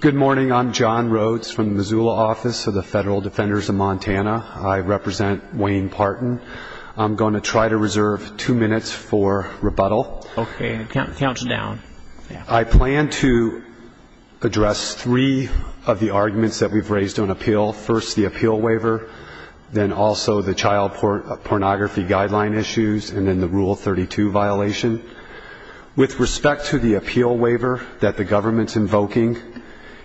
Good morning. I'm John Rhodes from the Missoula office of the Federal Defenders of Montana. I represent Wayne Partin. I'm going to try to reserve two minutes for rebuttal. Okay. Count it down. I plan to address three of the arguments that we've raised on appeal. First, the appeal waiver, then also the child pornography guideline issues, and then the Rule 32 violation. With respect to the appeal waiver that the government's invoking,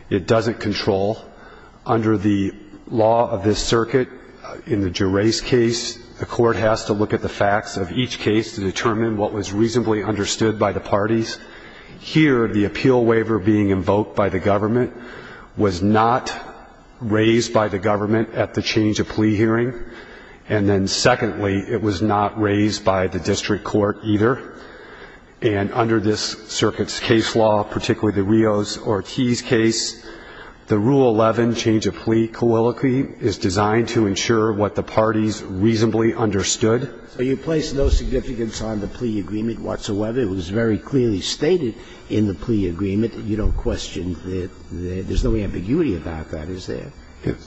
it doesn't control. Under the law of this circuit, in the Gerace case, the court has to look at the facts of each case to determine what was reasonably understood by the parties. Here, the appeal waiver being invoked by the government was not raised by the government at the change-of-plea hearing. And then secondly, it was not raised by the district court either. And under this circuit's case law, particularly the Rios-Ortiz case, the Rule 11 change-of-plea colloquy is designed to ensure what the parties reasonably understood. So you place no significance on the plea agreement whatsoever. It was very clearly stated in the plea agreement that you don't question the – there's no ambiguity about that, is there?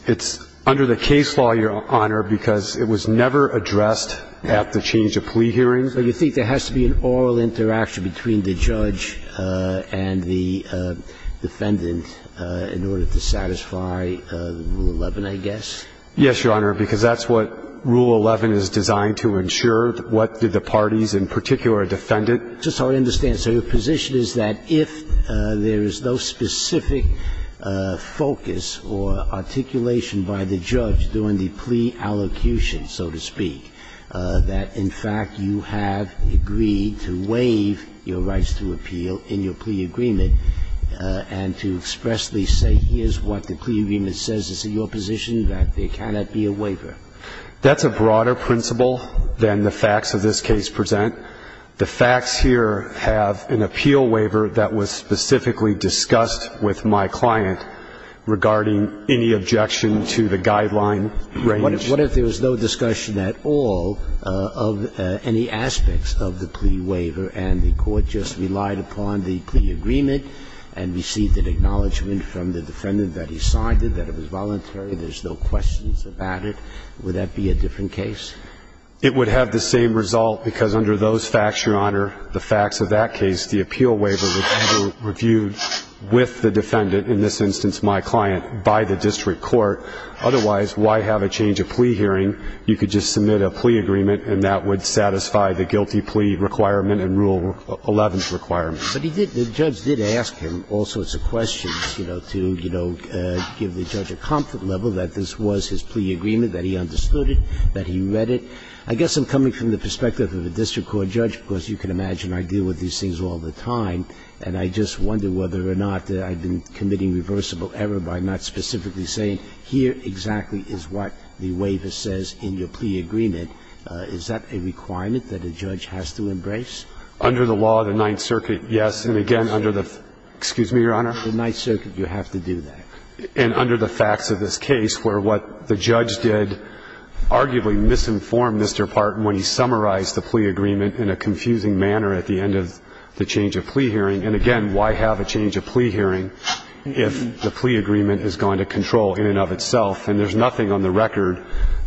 It's under the case law, Your Honor, because it was never addressed at the change-of-plea hearing. So you think there has to be an oral interaction between the judge and the defendant in order to satisfy Rule 11, I guess? Yes, Your Honor, because that's what Rule 11 is designed to ensure, what did the parties in particular defend it. Just so I understand, so your position is that if there is no specific focus or articulation by the judge during the plea allocution, so to speak, that, in fact, you have agreed to waive your rights to appeal in your plea agreement and to expressly say, here's what the plea agreement says. Is it your position that there cannot be a waiver? That's a broader principle than the facts of this case present. The facts here have an appeal waiver that was specifically discussed with my client regarding any objection to the guideline range. What if there was no discussion at all of any aspects of the plea waiver and the court just relied upon the plea agreement and received an acknowledgment from the defendant that he signed it, that it was voluntary, there's no questions about it, would that be a different case? It would have the same result because under those facts, Your Honor, the facts of that case, the appeal waiver was reviewed with the defendant, in this instance my client, by the district court. Otherwise, why have a change of plea hearing? You could just submit a plea agreement and that would satisfy the guilty plea requirement and Rule 11's requirement. But he did, the judge did ask him all sorts of questions, you know, to, you know, give the judge a comfort level that this was his plea agreement, that he understood it, that he read it. I guess I'm coming from the perspective of a district court judge because you can imagine I deal with these things all the time, and I just wonder whether or not that I've been committing reversible error by not specifically saying here exactly is what the waiver says in your plea agreement. Is that a requirement that a judge has to embrace? Under the law of the Ninth Circuit, yes. And again, under the – excuse me, Your Honor? The Ninth Circuit, you have to do that. And under the facts of this case where what the judge did arguably misinformed Mr. Parton when he summarized the plea agreement in a confusing manner at the end of the change of plea hearing if the plea agreement is going to control in and of itself. And there's nothing on the record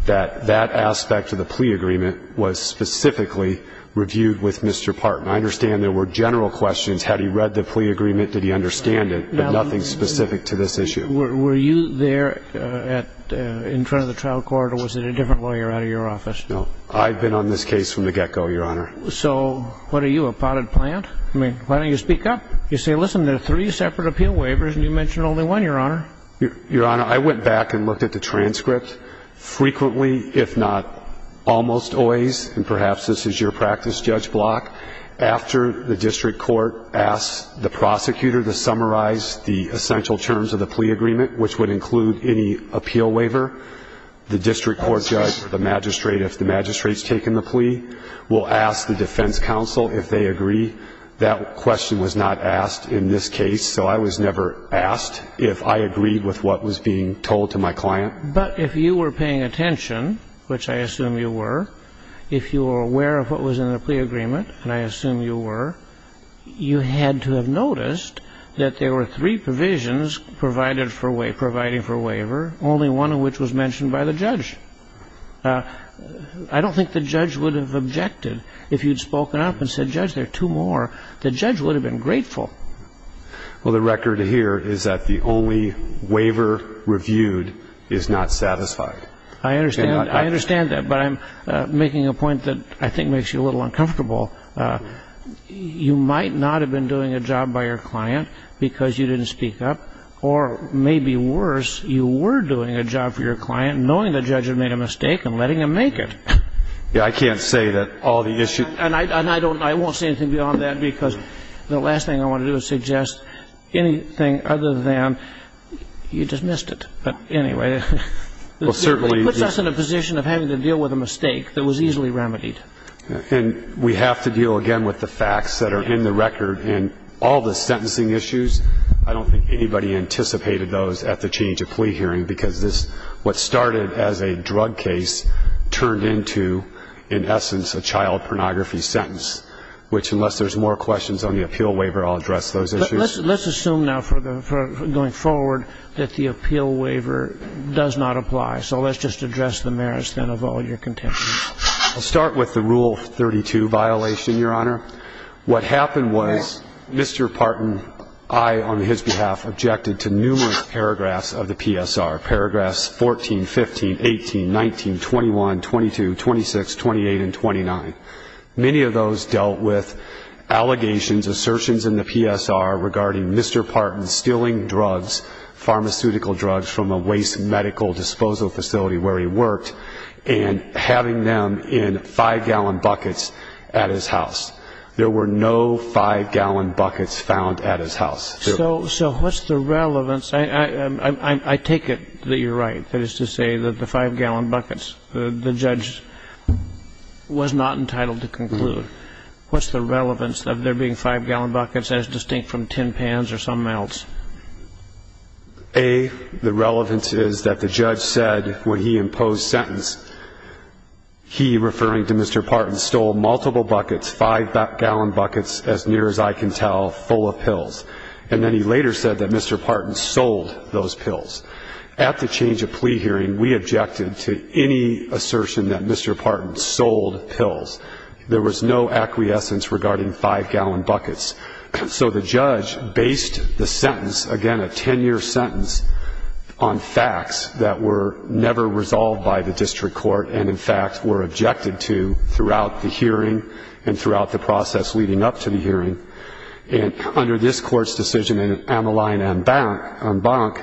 that that aspect of the plea agreement was specifically reviewed with Mr. Parton. I understand there were general questions. Had he read the plea agreement? Did he understand it? But nothing specific to this issue. Were you there in front of the trial court or was it a different lawyer out of your office? No. I've been on this case from the get-go, Your Honor. So what are you, a potted plant? I mean, why don't you speak up? You say, listen, there are three separate appeal waivers and you mentioned only one, Your Honor. Your Honor, I went back and looked at the transcript. Frequently, if not almost always, and perhaps this is your practice, Judge Block, after the district court asks the prosecutor to summarize the essential terms of the plea agreement, which would include any appeal waiver, the district court judge, the magistrate, if the magistrate's taken the plea, will ask the defense counsel if they agree. That question was not asked in this case, so I was never asked if I agreed with what was being told to my client. But if you were paying attention, which I assume you were, if you were aware of what was in the plea agreement, and I assume you were, you had to have noticed that there were three provisions providing for waiver, only one of which was mentioned by the judge. I don't think the judge would have objected if you'd spoken up and said, well, there's a judge there, two more. The judge would have been grateful. Well, the record here is that the only waiver reviewed is not satisfied. I understand that, but I'm making a point that I think makes you a little uncomfortable. You might not have been doing a job by your client because you didn't speak up, or maybe worse, you were doing a job for your client knowing the judge had made a mistake and letting him make it. Yeah, I can't say that all the issues. And I won't say anything beyond that, because the last thing I want to do is suggest anything other than you dismissed it. But anyway, it puts us in a position of having to deal with a mistake that was easily remedied. And we have to deal, again, with the facts that are in the record. And all the sentencing issues, I don't think anybody anticipated those at the change of plea hearing, because what started as a drug case turned into, in essence, a child pornography sentence, which, unless there's more questions on the appeal waiver, I'll address those issues. Let's assume now, going forward, that the appeal waiver does not apply. So let's just address the merits, then, of all your contention. I'll start with the Rule 32 violation, Your Honor. What happened was Mr. Parton, I, on his behalf, objected to numerous paragraphs of the PSR, paragraphs 14, 15, 18, 19, 21, 22, 26, 28, and 29. Many of those dealt with allegations, assertions in the PSR, regarding Mr. Parton stealing drugs, pharmaceutical drugs, from a waste medical disposal facility where he worked and having them in five-gallon buckets at his house. There were no five-gallon buckets found at his house. So what's the relevance? I take it that you're right, that is to say that the five-gallon buckets, the judge was not entitled to conclude. What's the relevance of there being five-gallon buckets as distinct from tin pans or something else? A, the relevance is that the judge said when he imposed sentence, he, referring to Mr. Parton, stole multiple buckets, five-gallon buckets, as near as I can tell, full of pills. And then he later said that Mr. Parton sold those pills. At the change of plea hearing, we objected to any assertion that Mr. Parton sold pills. There was no acquiescence regarding five-gallon buckets. So the judge based the sentence, again a 10-year sentence, on facts that were never resolved by the district court and in fact were objected to throughout the hearing and throughout the process leading up to the hearing. And under this court's decision in Amaline en banc,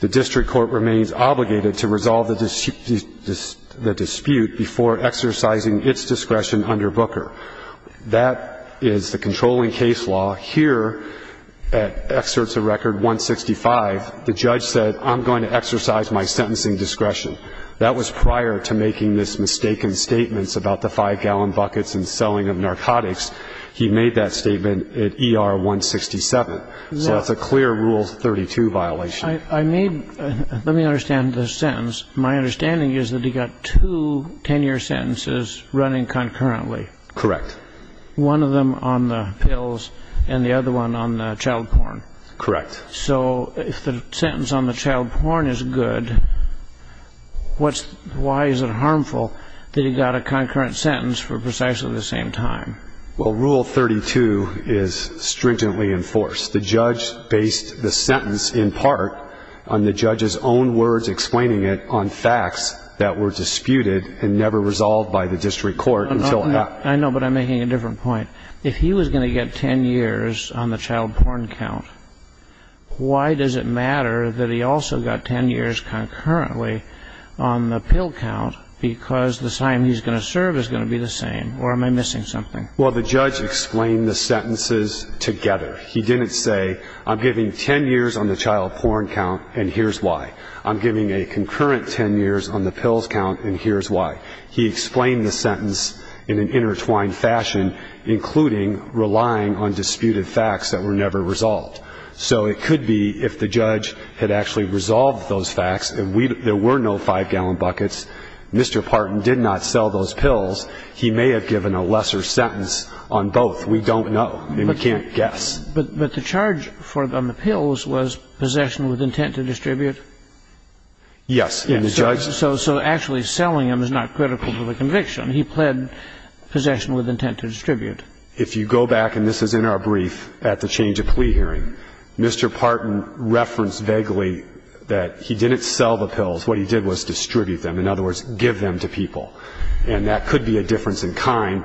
the district court remains obligated to resolve the dispute before exercising its discretion under Booker. That is the controlling case law. Here, at excerpts of Record 165, the judge said, I'm going to exercise my sentencing discretion. That was prior to making this mistaken statements about the five-gallon buckets and selling of narcotics. He made that statement at ER 167. So that's a clear Rule 32 violation. I made ñ let me understand the sentence. My understanding is that he got two 10-year sentences running concurrently. Correct. One of them on the pills and the other one on the child porn. Correct. So if the sentence on the child porn is good, why is it harmful that he got a concurrent sentence for precisely the same time? Well, Rule 32 is stringently enforced. The judge based the sentence in part on the judge's own words explaining it on facts that were disputed and never resolved by the district court until after. I know, but I'm making a different point. If he was going to get 10 years on the child porn count, why does it matter that he also got 10 years concurrently on the pill count because the time he's going to serve is going to be the same, or am I missing something? Well, the judge explained the sentences together. He didn't say, I'm giving 10 years on the child porn count and here's why. I'm giving a concurrent 10 years on the pills count and here's why. He explained the sentence in an intertwined fashion, including relying on disputed facts that were never resolved. So it could be if the judge had actually resolved those facts and there were no 5-gallon buckets, Mr. Parton did not sell those pills, he may have given a lesser sentence on both. We don't know and we can't guess. But the charge on the pills was possession with intent to distribute? Yes. So actually selling them is not critical to the conviction. He pled possession with intent to distribute. If you go back, and this is in our brief at the change of plea hearing, Mr. Parton referenced vaguely that he didn't sell the pills. What he did was distribute them. In other words, give them to people. And that could be a difference in kind.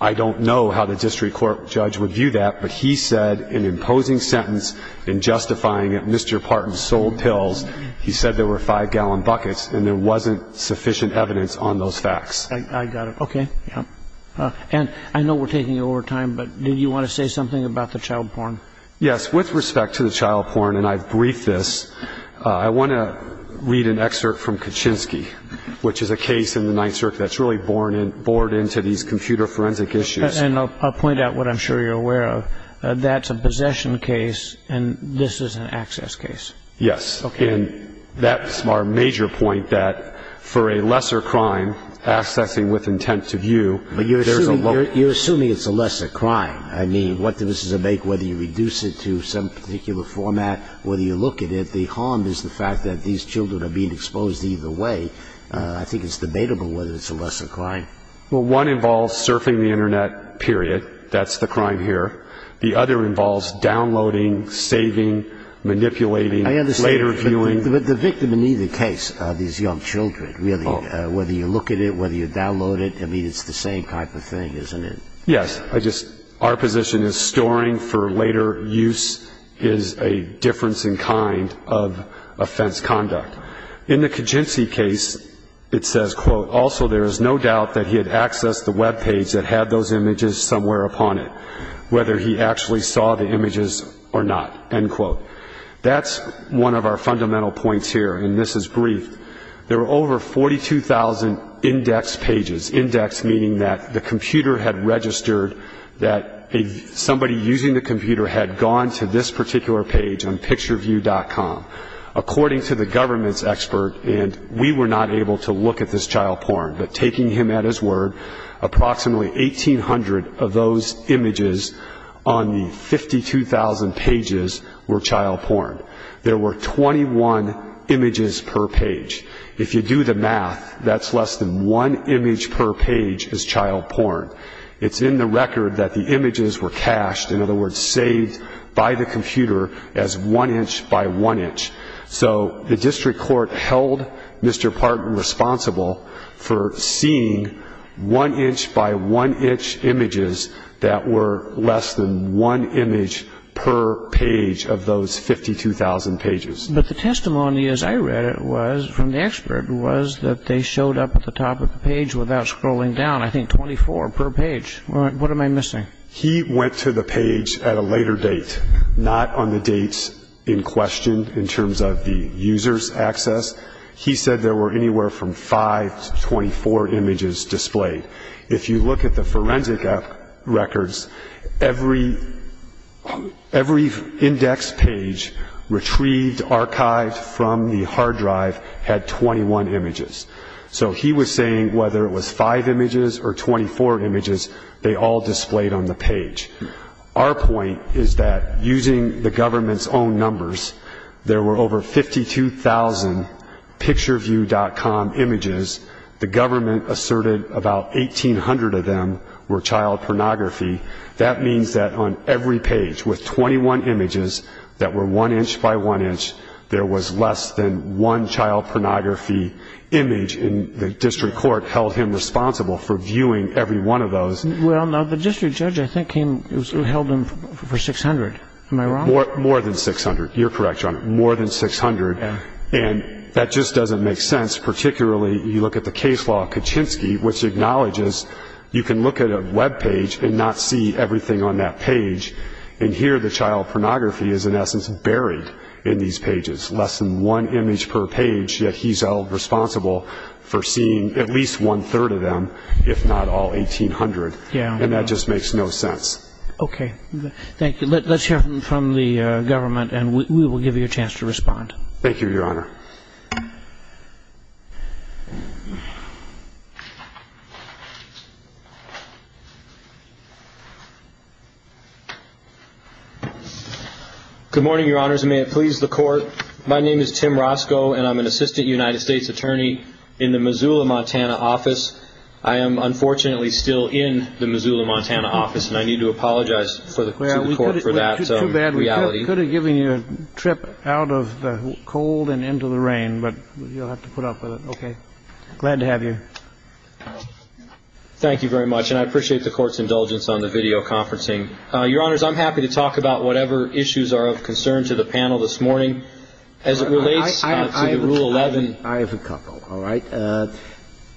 I don't know how the district court judge would view that, but he said in imposing sentence in justifying Mr. Parton's sold pills, he said there were 5-gallon buckets and there wasn't sufficient evidence on those facts. I got it. Okay. And I know we're taking over time, but did you want to say something about the child porn? Yes. With respect to the child porn, and I've briefed this, I want to read an excerpt from Kaczynski, which is a case in the Ninth Circuit that's really bored into these computer forensic issues. And I'll point out what I'm sure you're aware of. That's a possession case, and this is an access case. Yes. Okay. And that's our major point, that for a lesser crime, accessing with intent to view, there's a low risk. But you're assuming it's a lesser crime. I mean, what does this make, whether you reduce it to some particular format, whether you look at it, the harm is the fact that these children are being exposed either way. I think it's debatable whether it's a lesser crime. Well, one involves surfing the Internet, period. That's the crime here. The other involves downloading, saving, manipulating, later viewing. But the victim in either case are these young children, really, whether you look at it, whether you download it. I mean, it's the same type of thing, isn't it? Yes. Our position is storing for later use is a difference in kind of offense conduct. In the Kijinsky case, it says, quote, also there is no doubt that he had accessed the web page that had those images somewhere upon it, whether he actually saw the images or not, end quote. That's one of our fundamental points here, and this is brief. There were over 42,000 index pages, index meaning that the computer had registered that somebody using the computer had gone to this particular page on pictureview.com. According to the government's expert, and we were not able to look at this child porn, but taking him at his word, approximately 1,800 of those images on the 52,000 pages were child porn. There were 21 images per page. If you do the math, that's less than one image per page is child porn. It's in the record that the images were cached, in other words, saved by the computer as one inch by one inch. So the district court held Mr. Parton responsible for seeing one inch by one inch images that were less than one image per page of those 52,000 pages. But the testimony as I read it was, from the expert, was that they showed up at the top of the page without scrolling down, I think 24 per page. What am I missing? He went to the page at a later date, not on the dates in question in terms of the user's access. He said there were anywhere from five to 24 images displayed. If you look at the forensic records, every index page retrieved, archived from the hard drive, had 21 images. So he was saying whether it was five images or 24 images, they all displayed on the page. Our point is that using the government's own numbers, there were over 52,000 pictureview.com images. The government asserted about 1,800 of them were child pornography. That means that on every page with 21 images that were one inch by one inch, there was less than one child pornography image. And the district court held him responsible for viewing every one of those. Well, now, the district judge, I think, held him for 600. Am I wrong? More than 600. You're correct, Your Honor, more than 600. And that just doesn't make sense. Particularly, you look at the case law of Kaczynski, which acknowledges you can look at a Web page and not see everything on that page. And here the child pornography is, in essence, buried in these pages, less than one image per page, yet he's held responsible for seeing at least one-third of them, if not all 1,800. And that just makes no sense. Okay. Thank you. Let's hear from the government, and we will give you a chance to respond. Thank you, Your Honor. Good morning, Your Honors, and may it please the Court. My name is Tim Roscoe, and I'm an assistant United States attorney in the Missoula, Montana, office. I am, unfortunately, still in the Missoula, Montana, office, and I need to apologize to the Court for that reality. I could have given you a trip out of the cold and into the rain, but you'll have to put up with it. Okay. Glad to have you. Thank you very much, and I appreciate the Court's indulgence on the videoconferencing. Your Honors, I'm happy to talk about whatever issues are of concern to the panel this morning. As it relates to the Rule 11. I have a couple. All right.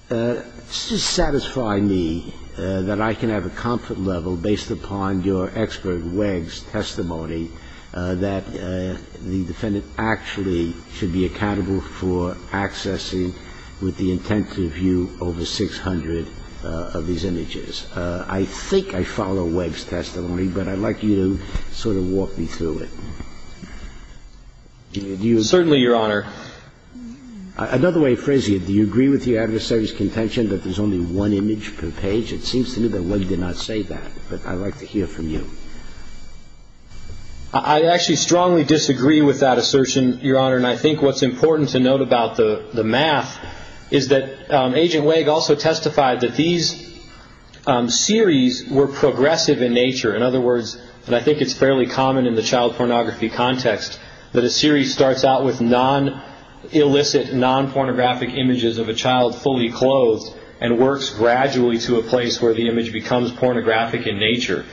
Let's just satisfy me that I can have a comfort level based upon your expert Wegg's testimony that the defendant actually should be accountable for accessing with the intent to view over 600 of these images. I think I follow Wegg's testimony, but I'd like you to sort of walk me through it. Certainly, Your Honor. Another way of phrasing it, do you agree with the adversary's contention that there's only one image per page? It seems to me that Wegg did not say that, but I'd like to hear from you. I actually strongly disagree with that assertion, Your Honor, and I think what's important to note about the math is that Agent Wegg also testified that these series were progressive in nature. In other words, and I think it's fairly common in the child pornography context, that a series starts out with non-illicit, non-pornographic images of a child fully clothed and works gradually to a place where the image becomes pornographic in nature.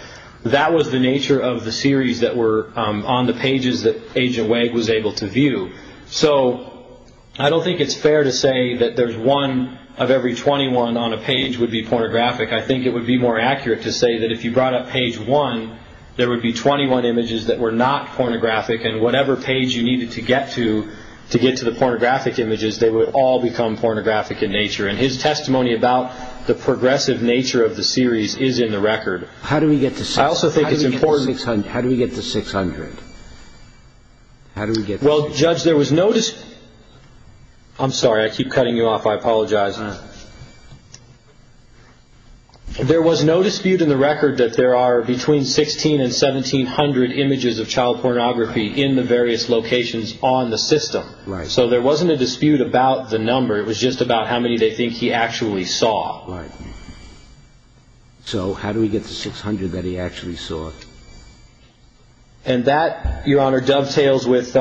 That was the nature of the series that were on the pages that Agent Wegg was able to view. So I don't think it's fair to say that there's one of every 21 on a page would be pornographic. I think it would be more accurate to say that if you brought up page one, there would be 21 images that were not pornographic, and whatever page you needed to get to to get to the pornographic images, they would all become pornographic in nature. And his testimony about the progressive nature of the series is in the record. How do we get to 600? I also think it's important... How do we get to 600? Well, Judge, there was no... I'm sorry. I keep cutting you off. I apologize. There was no dispute in the record that there are between 1,600 and 1,700 images of child pornography in the various locations on the system. So there wasn't a dispute about the number. It was just about how many they think he actually saw. So how do we get to 600 that he actually saw? And that, Your Honor, dovetails with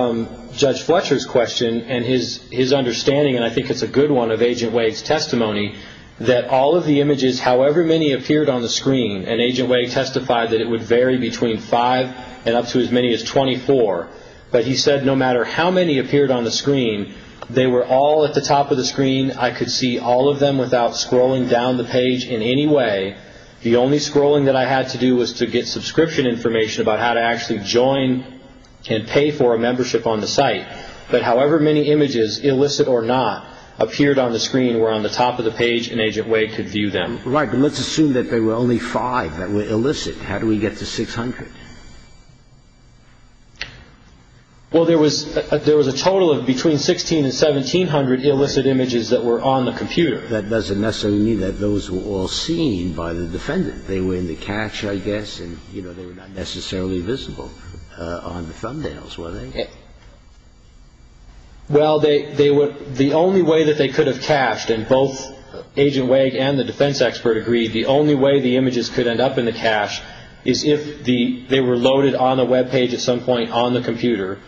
Judge Fletcher's question and his understanding, and I think it's a good one, of Agent Wade's testimony that all of the images, however many appeared on the screen, and Agent Wade testified that it would vary between five and up to as many as 24, but he said no matter how many appeared on the screen, they were all at the top of the screen. I could see all of them without scrolling down the page in any way. The only scrolling that I had to do was to get subscription information about how to actually join and pay for a membership on the site, but however many images, illicit or not, appeared on the screen were on the top of the page and Agent Wade could view them. Right, but let's assume that there were only five that were illicit. How do we get to 600? Well, there was a total of between 1,600 and 1,700 illicit images that were on the computer. But that doesn't necessarily mean that those were all seen by the defendant. They were in the cache, I guess, and, you know, they were not necessarily visible on the thumbnails, were they? Well, they were the only way that they could have cached, and both Agent Wade and the defense expert agreed the only way the images could end up in the cache is if they were loaded on the Web page at some point on the computer,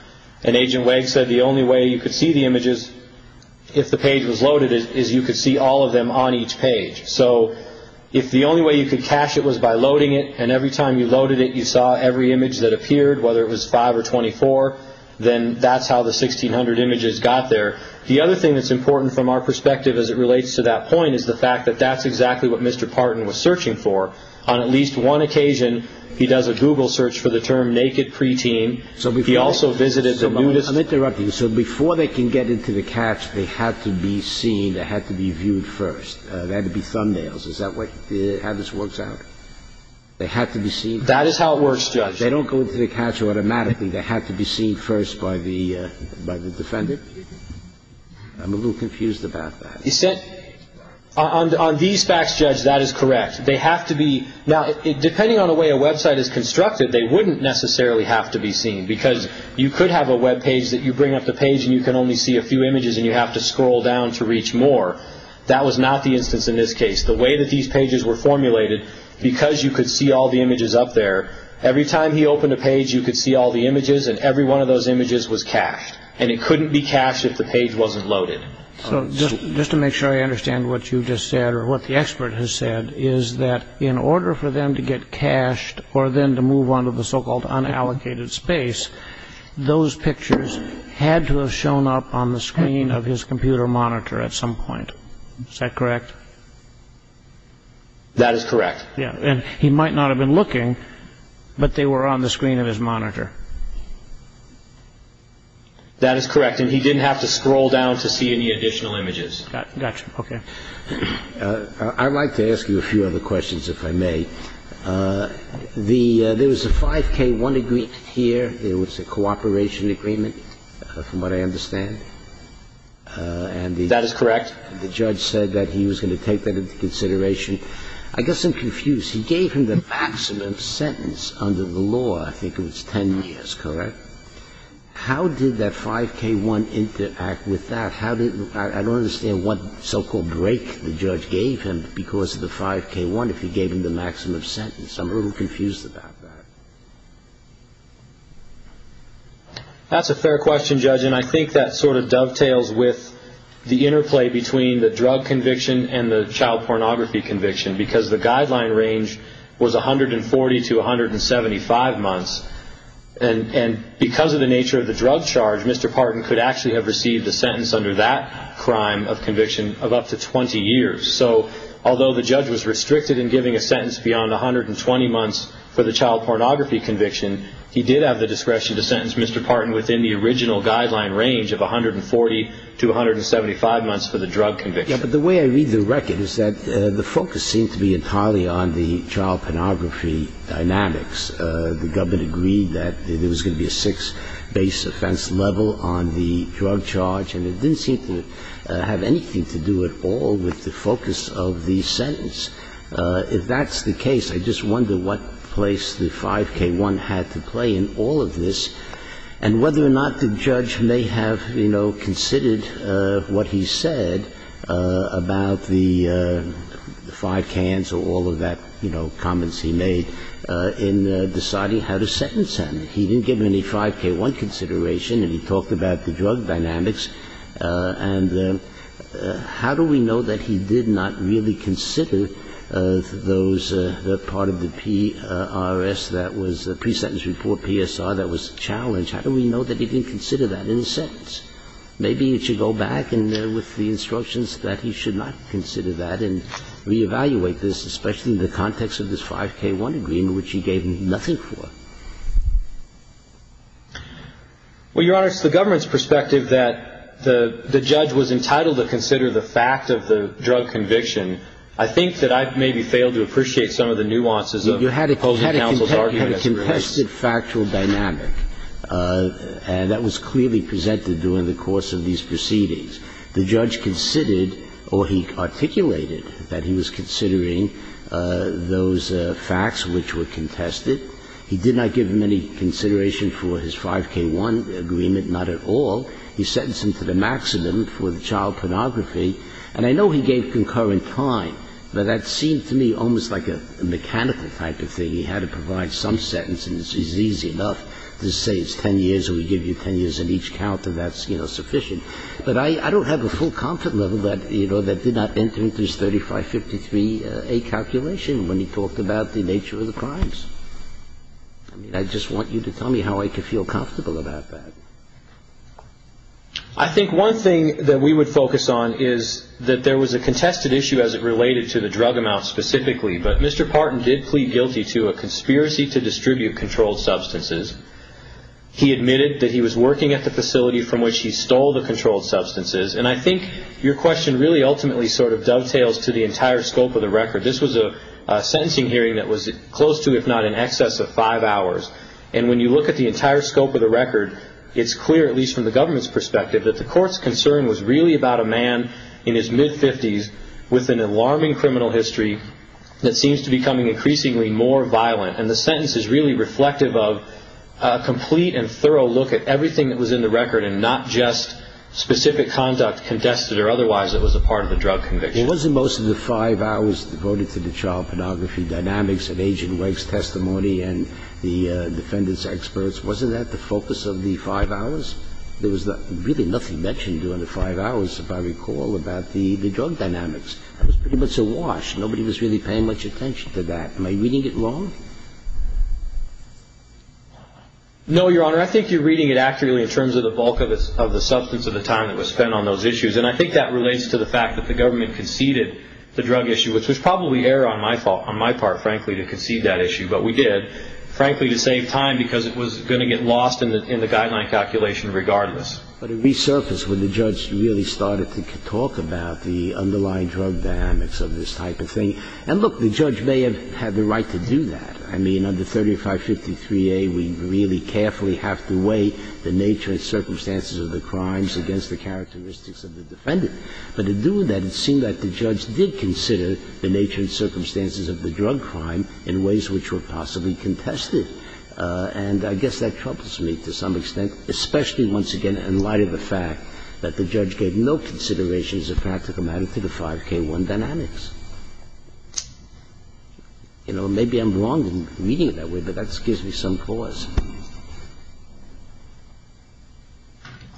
and Agent Wade said the only way you could see the images if the page was loaded is you could see all of them on each page. So if the only way you could cache it was by loading it and every time you loaded it you saw every image that appeared, whether it was 5 or 24, then that's how the 1,600 images got there. The other thing that's important from our perspective as it relates to that point is the fact that that's exactly what Mr. Parton was searching for. On at least one occasion he does a Google search for the term naked preteen. He also visited the nudist... They had to be seen. They had to be viewed first. They had to be thumbnails. Is that how this works out? They had to be seen. That is how it works, Judge. They don't go into the cache automatically. They had to be seen first by the defendant. I'm a little confused about that. On these facts, Judge, that is correct. They have to be. Now, depending on the way a Web site is constructed, they wouldn't necessarily have to be seen because you could have a Web page that you bring up the page and you can only see a few images and you have to scroll down to reach more. That was not the instance in this case. The way that these pages were formulated, because you could see all the images up there, every time he opened a page you could see all the images and every one of those images was cached, and it couldn't be cached if the page wasn't loaded. So just to make sure I understand what you just said or what the expert has said is that in order for them to get cached or then to move on to the so-called unallocated space, those pictures had to have shown up on the screen of his computer monitor at some point. Is that correct? That is correct. Yeah. And he might not have been looking, but they were on the screen of his monitor. That is correct. And he didn't have to scroll down to see any additional images. Gotcha. Okay. I'd like to ask you a few other questions, if I may. There was a 5K1 agreement here. There was a cooperation agreement, from what I understand. That is correct. And the judge said that he was going to take that into consideration. I guess I'm confused. He gave him the maximum sentence under the law. I think it was 10 years, correct? How did that 5K1 interact with that? I don't understand what so-called break the judge gave him because of the 5K1, if he gave him the maximum sentence. I'm a little confused about that. That's a fair question, Judge, and I think that sort of dovetails with the interplay between the drug conviction and the child pornography conviction because the guideline range was 140 to 175 months. And because of the nature of the drug charge, Mr. Parton could actually have received a sentence under that crime of conviction of up to 20 years. So although the judge was restricted in giving a sentence beyond 120 months for the child pornography conviction, he did have the discretion to sentence Mr. Parton within the original guideline range of 140 to 175 months for the drug conviction. Yes, but the way I read the record is that the focus seemed to be entirely on the child pornography dynamics. The government agreed that there was going to be a six base offense level on the drug charge, and it didn't seem to have anything to do at all with the focus of the sentence. If that's the case, I just wonder what place the 5K1 had to play in all of this and whether or not the judge may have, you know, considered what he said about the five cans or all of that, you know, comments he made in deciding how to sentence him. He didn't give him any 5K1 consideration, and he talked about the drug dynamics. And how do we know that he did not really consider those part of the PRS that was the pre-sentence report, PSR, that was challenged? How do we know that he didn't consider that in his sentence? Maybe he should go back and with the instructions that he should not consider that and reevaluate this, especially in the context of this 5K1 agreement, which he gave nothing for. Well, Your Honor, it's the government's perspective that the judge was entitled to consider the fact of the drug conviction. I think that I've maybe failed to appreciate some of the nuances of opposing counsel's arguments. You had a contested factual dynamic, and that was clearly presented during the course of these proceedings. The judge considered or he articulated that he was considering those facts which were contested. He did not give him any consideration for his 5K1 agreement, not at all. He sentenced him to the maximum for the child pornography. And I know he gave concurrent time, but that seemed to me almost like a mechanical type of thing. He had to provide some sentence, and it's easy enough to say it's 10 years or we give you 10 years on each count and that's, you know, sufficient. But I don't have a full content level that, you know, that did not enter into his 3553A calculation when he talked about the nature of the crimes. I mean, I just want you to tell me how I can feel comfortable about that. I think one thing that we would focus on is that there was a contested issue as it related to the drug amount specifically. But Mr. Parton did plead guilty to a conspiracy to distribute controlled substances. He admitted that he was working at the facility from which he stole the controlled substances. And I think your question really ultimately sort of dovetails to the entire scope of the record. This was a sentencing hearing that was close to, if not in excess of, five hours. And when you look at the entire scope of the record, it's clear, at least from the government's perspective, that the court's concern was really about a man in his mid-50s with an alarming criminal history that seems to be becoming increasingly more violent. And the sentence is really reflective of a complete and thorough look at everything that was in the record and not just specific conduct, contested or otherwise, that was a part of the drug conviction. Well, wasn't most of the five hours devoted to the child pornography dynamics and Agent Wegg's testimony and the defendant's experts, wasn't that the focus of the five hours? There was really nothing mentioned during the five hours, if I recall, about the drug dynamics. That was pretty much awash. Nobody was really paying much attention to that. Am I reading it wrong? No, Your Honor. I think you're reading it accurately in terms of the bulk of the substance of the time that was spent on those issues. And I think that relates to the fact that the government conceded the drug issue, which was probably error on my part, frankly, to concede that issue. But we did, frankly, to save time because it was going to get lost in the guideline calculation regardless. But it resurfaced when the judge really started to talk about the underlying drug dynamics of this type of thing. And, look, the judge may have had the right to do that. I mean, under 3553A, we really carefully have to weigh the nature and circumstances of the crimes against the characteristics of the defendant. But in doing that, it seemed that the judge did consider the nature and circumstances of the drug crime in ways which were possibly contested. And I guess that troubles me to some extent, especially, once again, in light of the fact that the judge gave no considerations of practical matter to the 5K1 dynamics. You know, maybe I'm wrong in reading it that way, but that gives me some pause.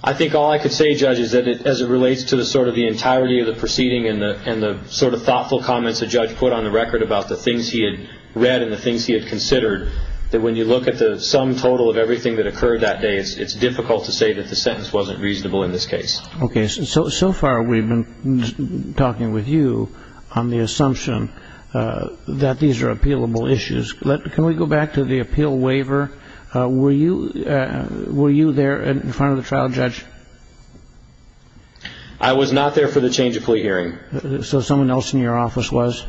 I think all I could say, Judge, is that as it relates to sort of the entirety of the proceeding and the sort of thoughtful comments the judge put on the record about the things he had read and the things he had considered, that when you look at the sum total of everything that occurred that day, it's difficult to say that the sentence wasn't reasonable in this case. Okay. So far we've been talking with you on the assumption that these are appealable issues. Can we go back to the appeal waiver? Were you there in front of the trial judge? I was not there for the change of plea hearing. So someone else in your office was?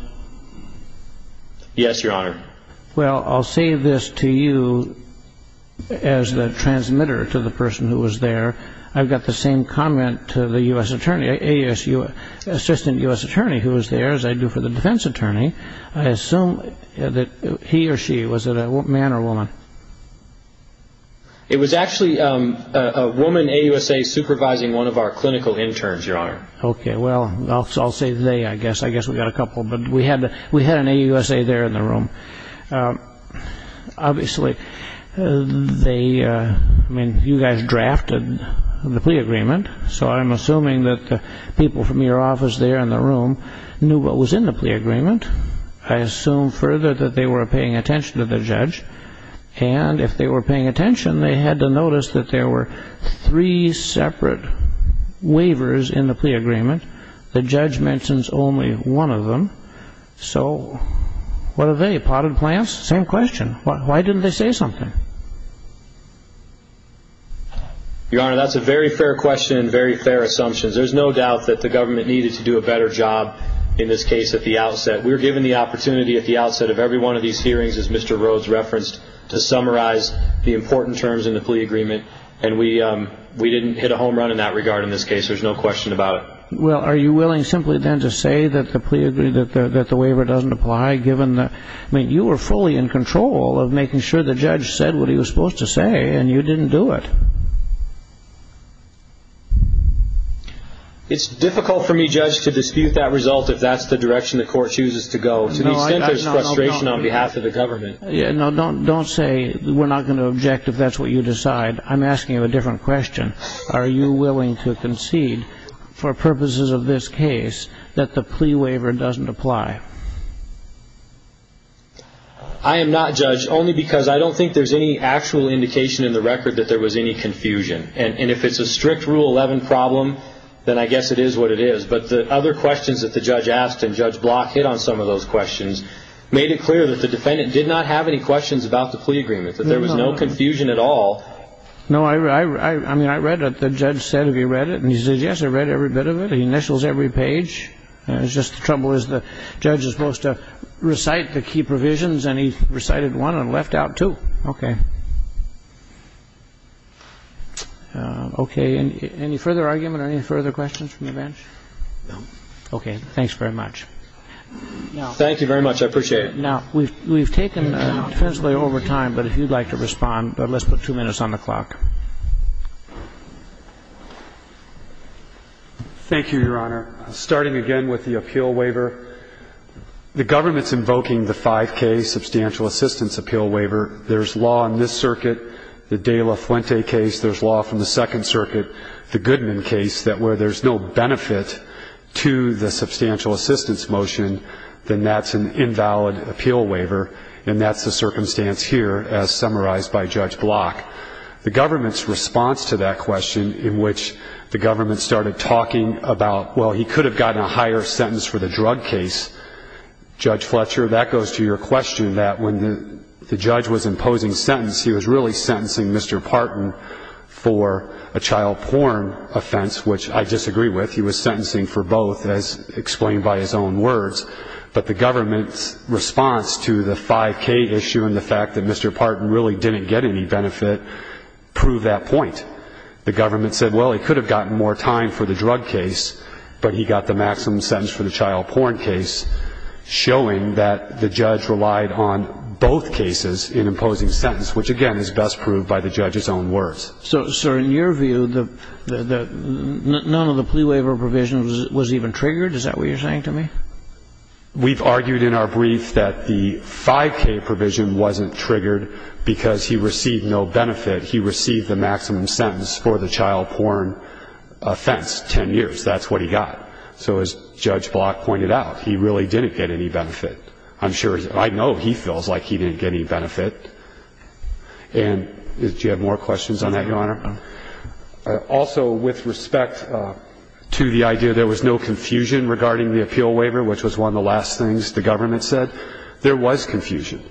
Yes, Your Honor. Well, I'll say this to you as the transmitter to the person who was there. I've got the same comment to the assistant U.S. attorney who was there, as I do for the defense attorney. I assume that he or she, was it a man or a woman? It was actually a woman, AUSA, supervising one of our clinical interns, Your Honor. Okay. Well, I'll say they, I guess. I guess we've got a couple, but we had an AUSA there in the room. Obviously, they, I mean, you guys drafted the plea agreement. So I'm assuming that the people from your office there in the room knew what was in the plea agreement. I assume further that they were paying attention to the judge. And if they were paying attention, they had to notice that there were three separate waivers in the plea agreement. The judge mentions only one of them. So what are they, potted plants? Same question. Why didn't they say something? Your Honor, that's a very fair question and very fair assumptions. There's no doubt that the government needed to do a better job in this case at the outset. We were given the opportunity at the outset of every one of these hearings, as Mr. Rhodes referenced, to summarize the important terms in the plea agreement. And we didn't hit a home run in that regard in this case. There's no question about it. Well, are you willing simply then to say that the plea agreement, that the waiver doesn't apply, given the, I mean, you were fully in control of making sure the judge said what he was supposed to say, and you didn't do it. It's difficult for me, Judge, to dispute that result if that's the direction the court chooses to go, to the extent there's frustration on behalf of the government. No, don't say we're not going to object if that's what you decide. I'm asking you a different question. Are you willing to concede for purposes of this case that the plea waiver doesn't apply? I am not, Judge, only because I don't think there's any actual indication in the record that there was any confusion. And if it's a strict Rule 11 problem, then I guess it is what it is. But the other questions that the judge asked, and Judge Block hit on some of those questions, made it clear that the defendant did not have any questions about the plea agreement, that there was no confusion at all. No, I mean, I read what the judge said. Have you read it? And he said, yes, I read every bit of it. He initials every page. It's just the trouble is the judge is supposed to recite the key provisions, and he recited one and left out two. Okay. Okay. Any further argument or any further questions from the bench? No. Okay. Thanks very much. Thank you very much. I appreciate it. Now, we've taken defensively over time, but if you'd like to respond, let's put two minutes on the clock. Thank you, Your Honor. Starting again with the appeal waiver. The government's invoking the 5K substantial assistance appeal waiver. There's law in this circuit, the De La Fuente case. There's law from the Second Circuit, the Goodman case, that where there's no benefit to the substantial assistance motion, then that's an invalid appeal waiver, and that's the circumstance here as summarized by Judge Block. The government's response to that question in which the government started talking about, well, he could have gotten a higher sentence for the drug case, Judge Fletcher, that goes to your question that when the judge was imposing sentence, he was really sentencing Mr. Parton for a child porn offense, which I disagree with. He was sentencing for both, as explained by his own words. But the government's response to the 5K issue and the fact that Mr. Parton really didn't get any benefit proved that point. The government said, well, he could have gotten more time for the drug case, but he got the maximum sentence for the child porn case, showing that the judge relied on both cases in imposing sentence, which, again, is best proved by the judge's own words. So, sir, in your view, none of the plea waiver provisions was even triggered? Is that what you're saying to me? We've argued in our brief that the 5K provision wasn't triggered because he received no benefit. He received the maximum sentence for the child porn offense, 10 years. That's what he got. So as Judge Block pointed out, he really didn't get any benefit. I'm sure he didn't. I know he feels like he didn't get any benefit. And do you have more questions on that, Your Honor? Also, with respect to the idea there was no confusion regarding the appeal waiver, which was one of the last things the government said, there was confusion.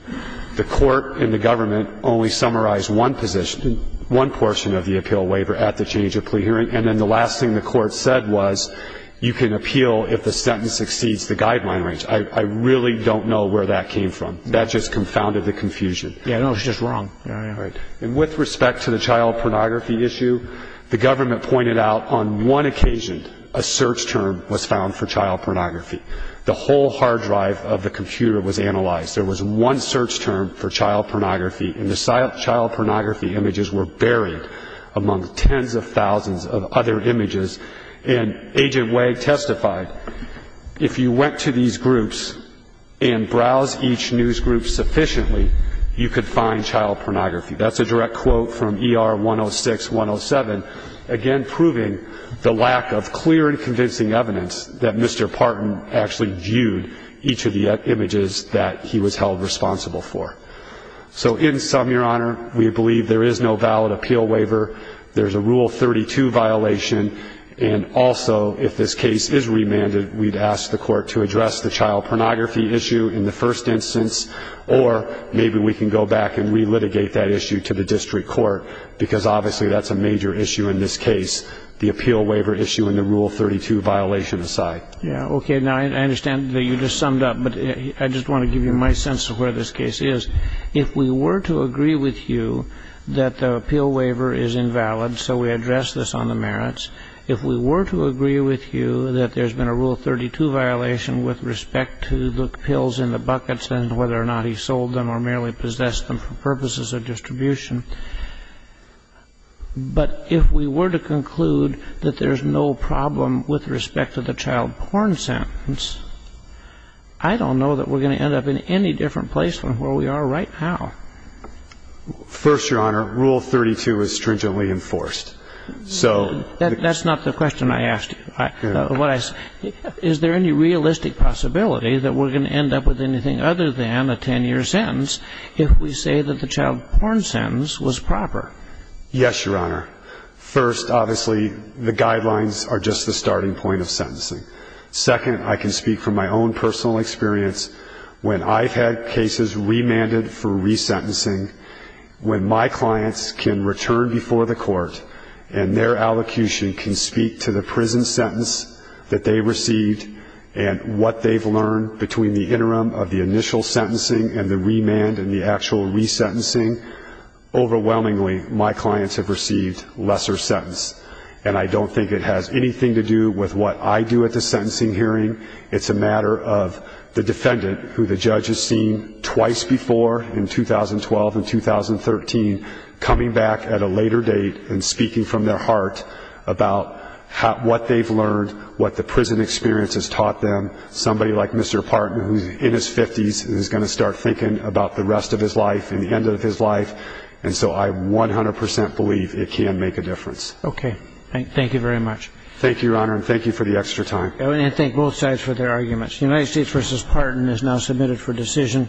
The court and the government only summarized one position, one portion of the appeal waiver at the change of plea hearing, and then the last thing the court said was you can appeal if the sentence exceeds the guideline range. I really don't know where that came from. That just confounded the confusion. Yeah, no, it was just wrong. And with respect to the child pornography issue, the government pointed out on one occasion a search term was found for child pornography. The whole hard drive of the computer was analyzed. There was one search term for child pornography, and the child pornography images were buried among tens of thousands of other images. And Agent Wag testified, if you went to these groups and browsed each news group sufficiently, you could find child pornography. That's a direct quote from ER 106-107, again proving the lack of clear and convincing evidence that Mr. Parton actually viewed each of the images that he was held responsible for. So in sum, Your Honor, we believe there is no valid appeal waiver. There's a Rule 32 violation. And also, if this case is remanded, we'd ask the court to address the child pornography issue in the first instance, or maybe we can go back and relitigate that issue to the district court, because obviously that's a major issue in this case, the appeal waiver issue and the Rule 32 violation aside. Yeah, okay. Now, I understand that you just summed up, but I just want to give you my sense of where this case is. If we were to agree with you that the appeal waiver is invalid, so we address this on the merits, if we were to agree with you that there's been a Rule 32 violation with respect to the pills in the buckets and whether or not he sold them or merely possessed them for purposes of distribution, but if we were to conclude that there's no problem with respect to the child porn sentence, I don't know that we're going to end up in any different place from where we are right now. First, Your Honor, Rule 32 is stringently enforced. That's not the question I asked you. Is there any realistic possibility that we're going to end up with anything other than a 10-year sentence if we say that the child porn sentence was proper? Yes, Your Honor. Second, I can speak from my own personal experience. When I've had cases remanded for resentencing, when my clients can return before the court and their allocution can speak to the prison sentence that they received and what they've learned between the interim of the initial sentencing and the remand and the actual resentencing, overwhelmingly, my clients have received lesser sentence. And I don't think it has anything to do with what I do at the sentencing hearing. It's a matter of the defendant, who the judge has seen twice before in 2012 and 2013, coming back at a later date and speaking from their heart about what they've learned, what the prison experience has taught them. Somebody like Mr. Parton, who's in his 50s, is going to start thinking about the rest of his life and the end of his life, and so I 100 percent believe it can make a difference. Okay. Thank you very much. Thank you, Your Honor, and thank you for the extra time. And thank both sides for their arguments. United States v. Parton is now submitted for decision.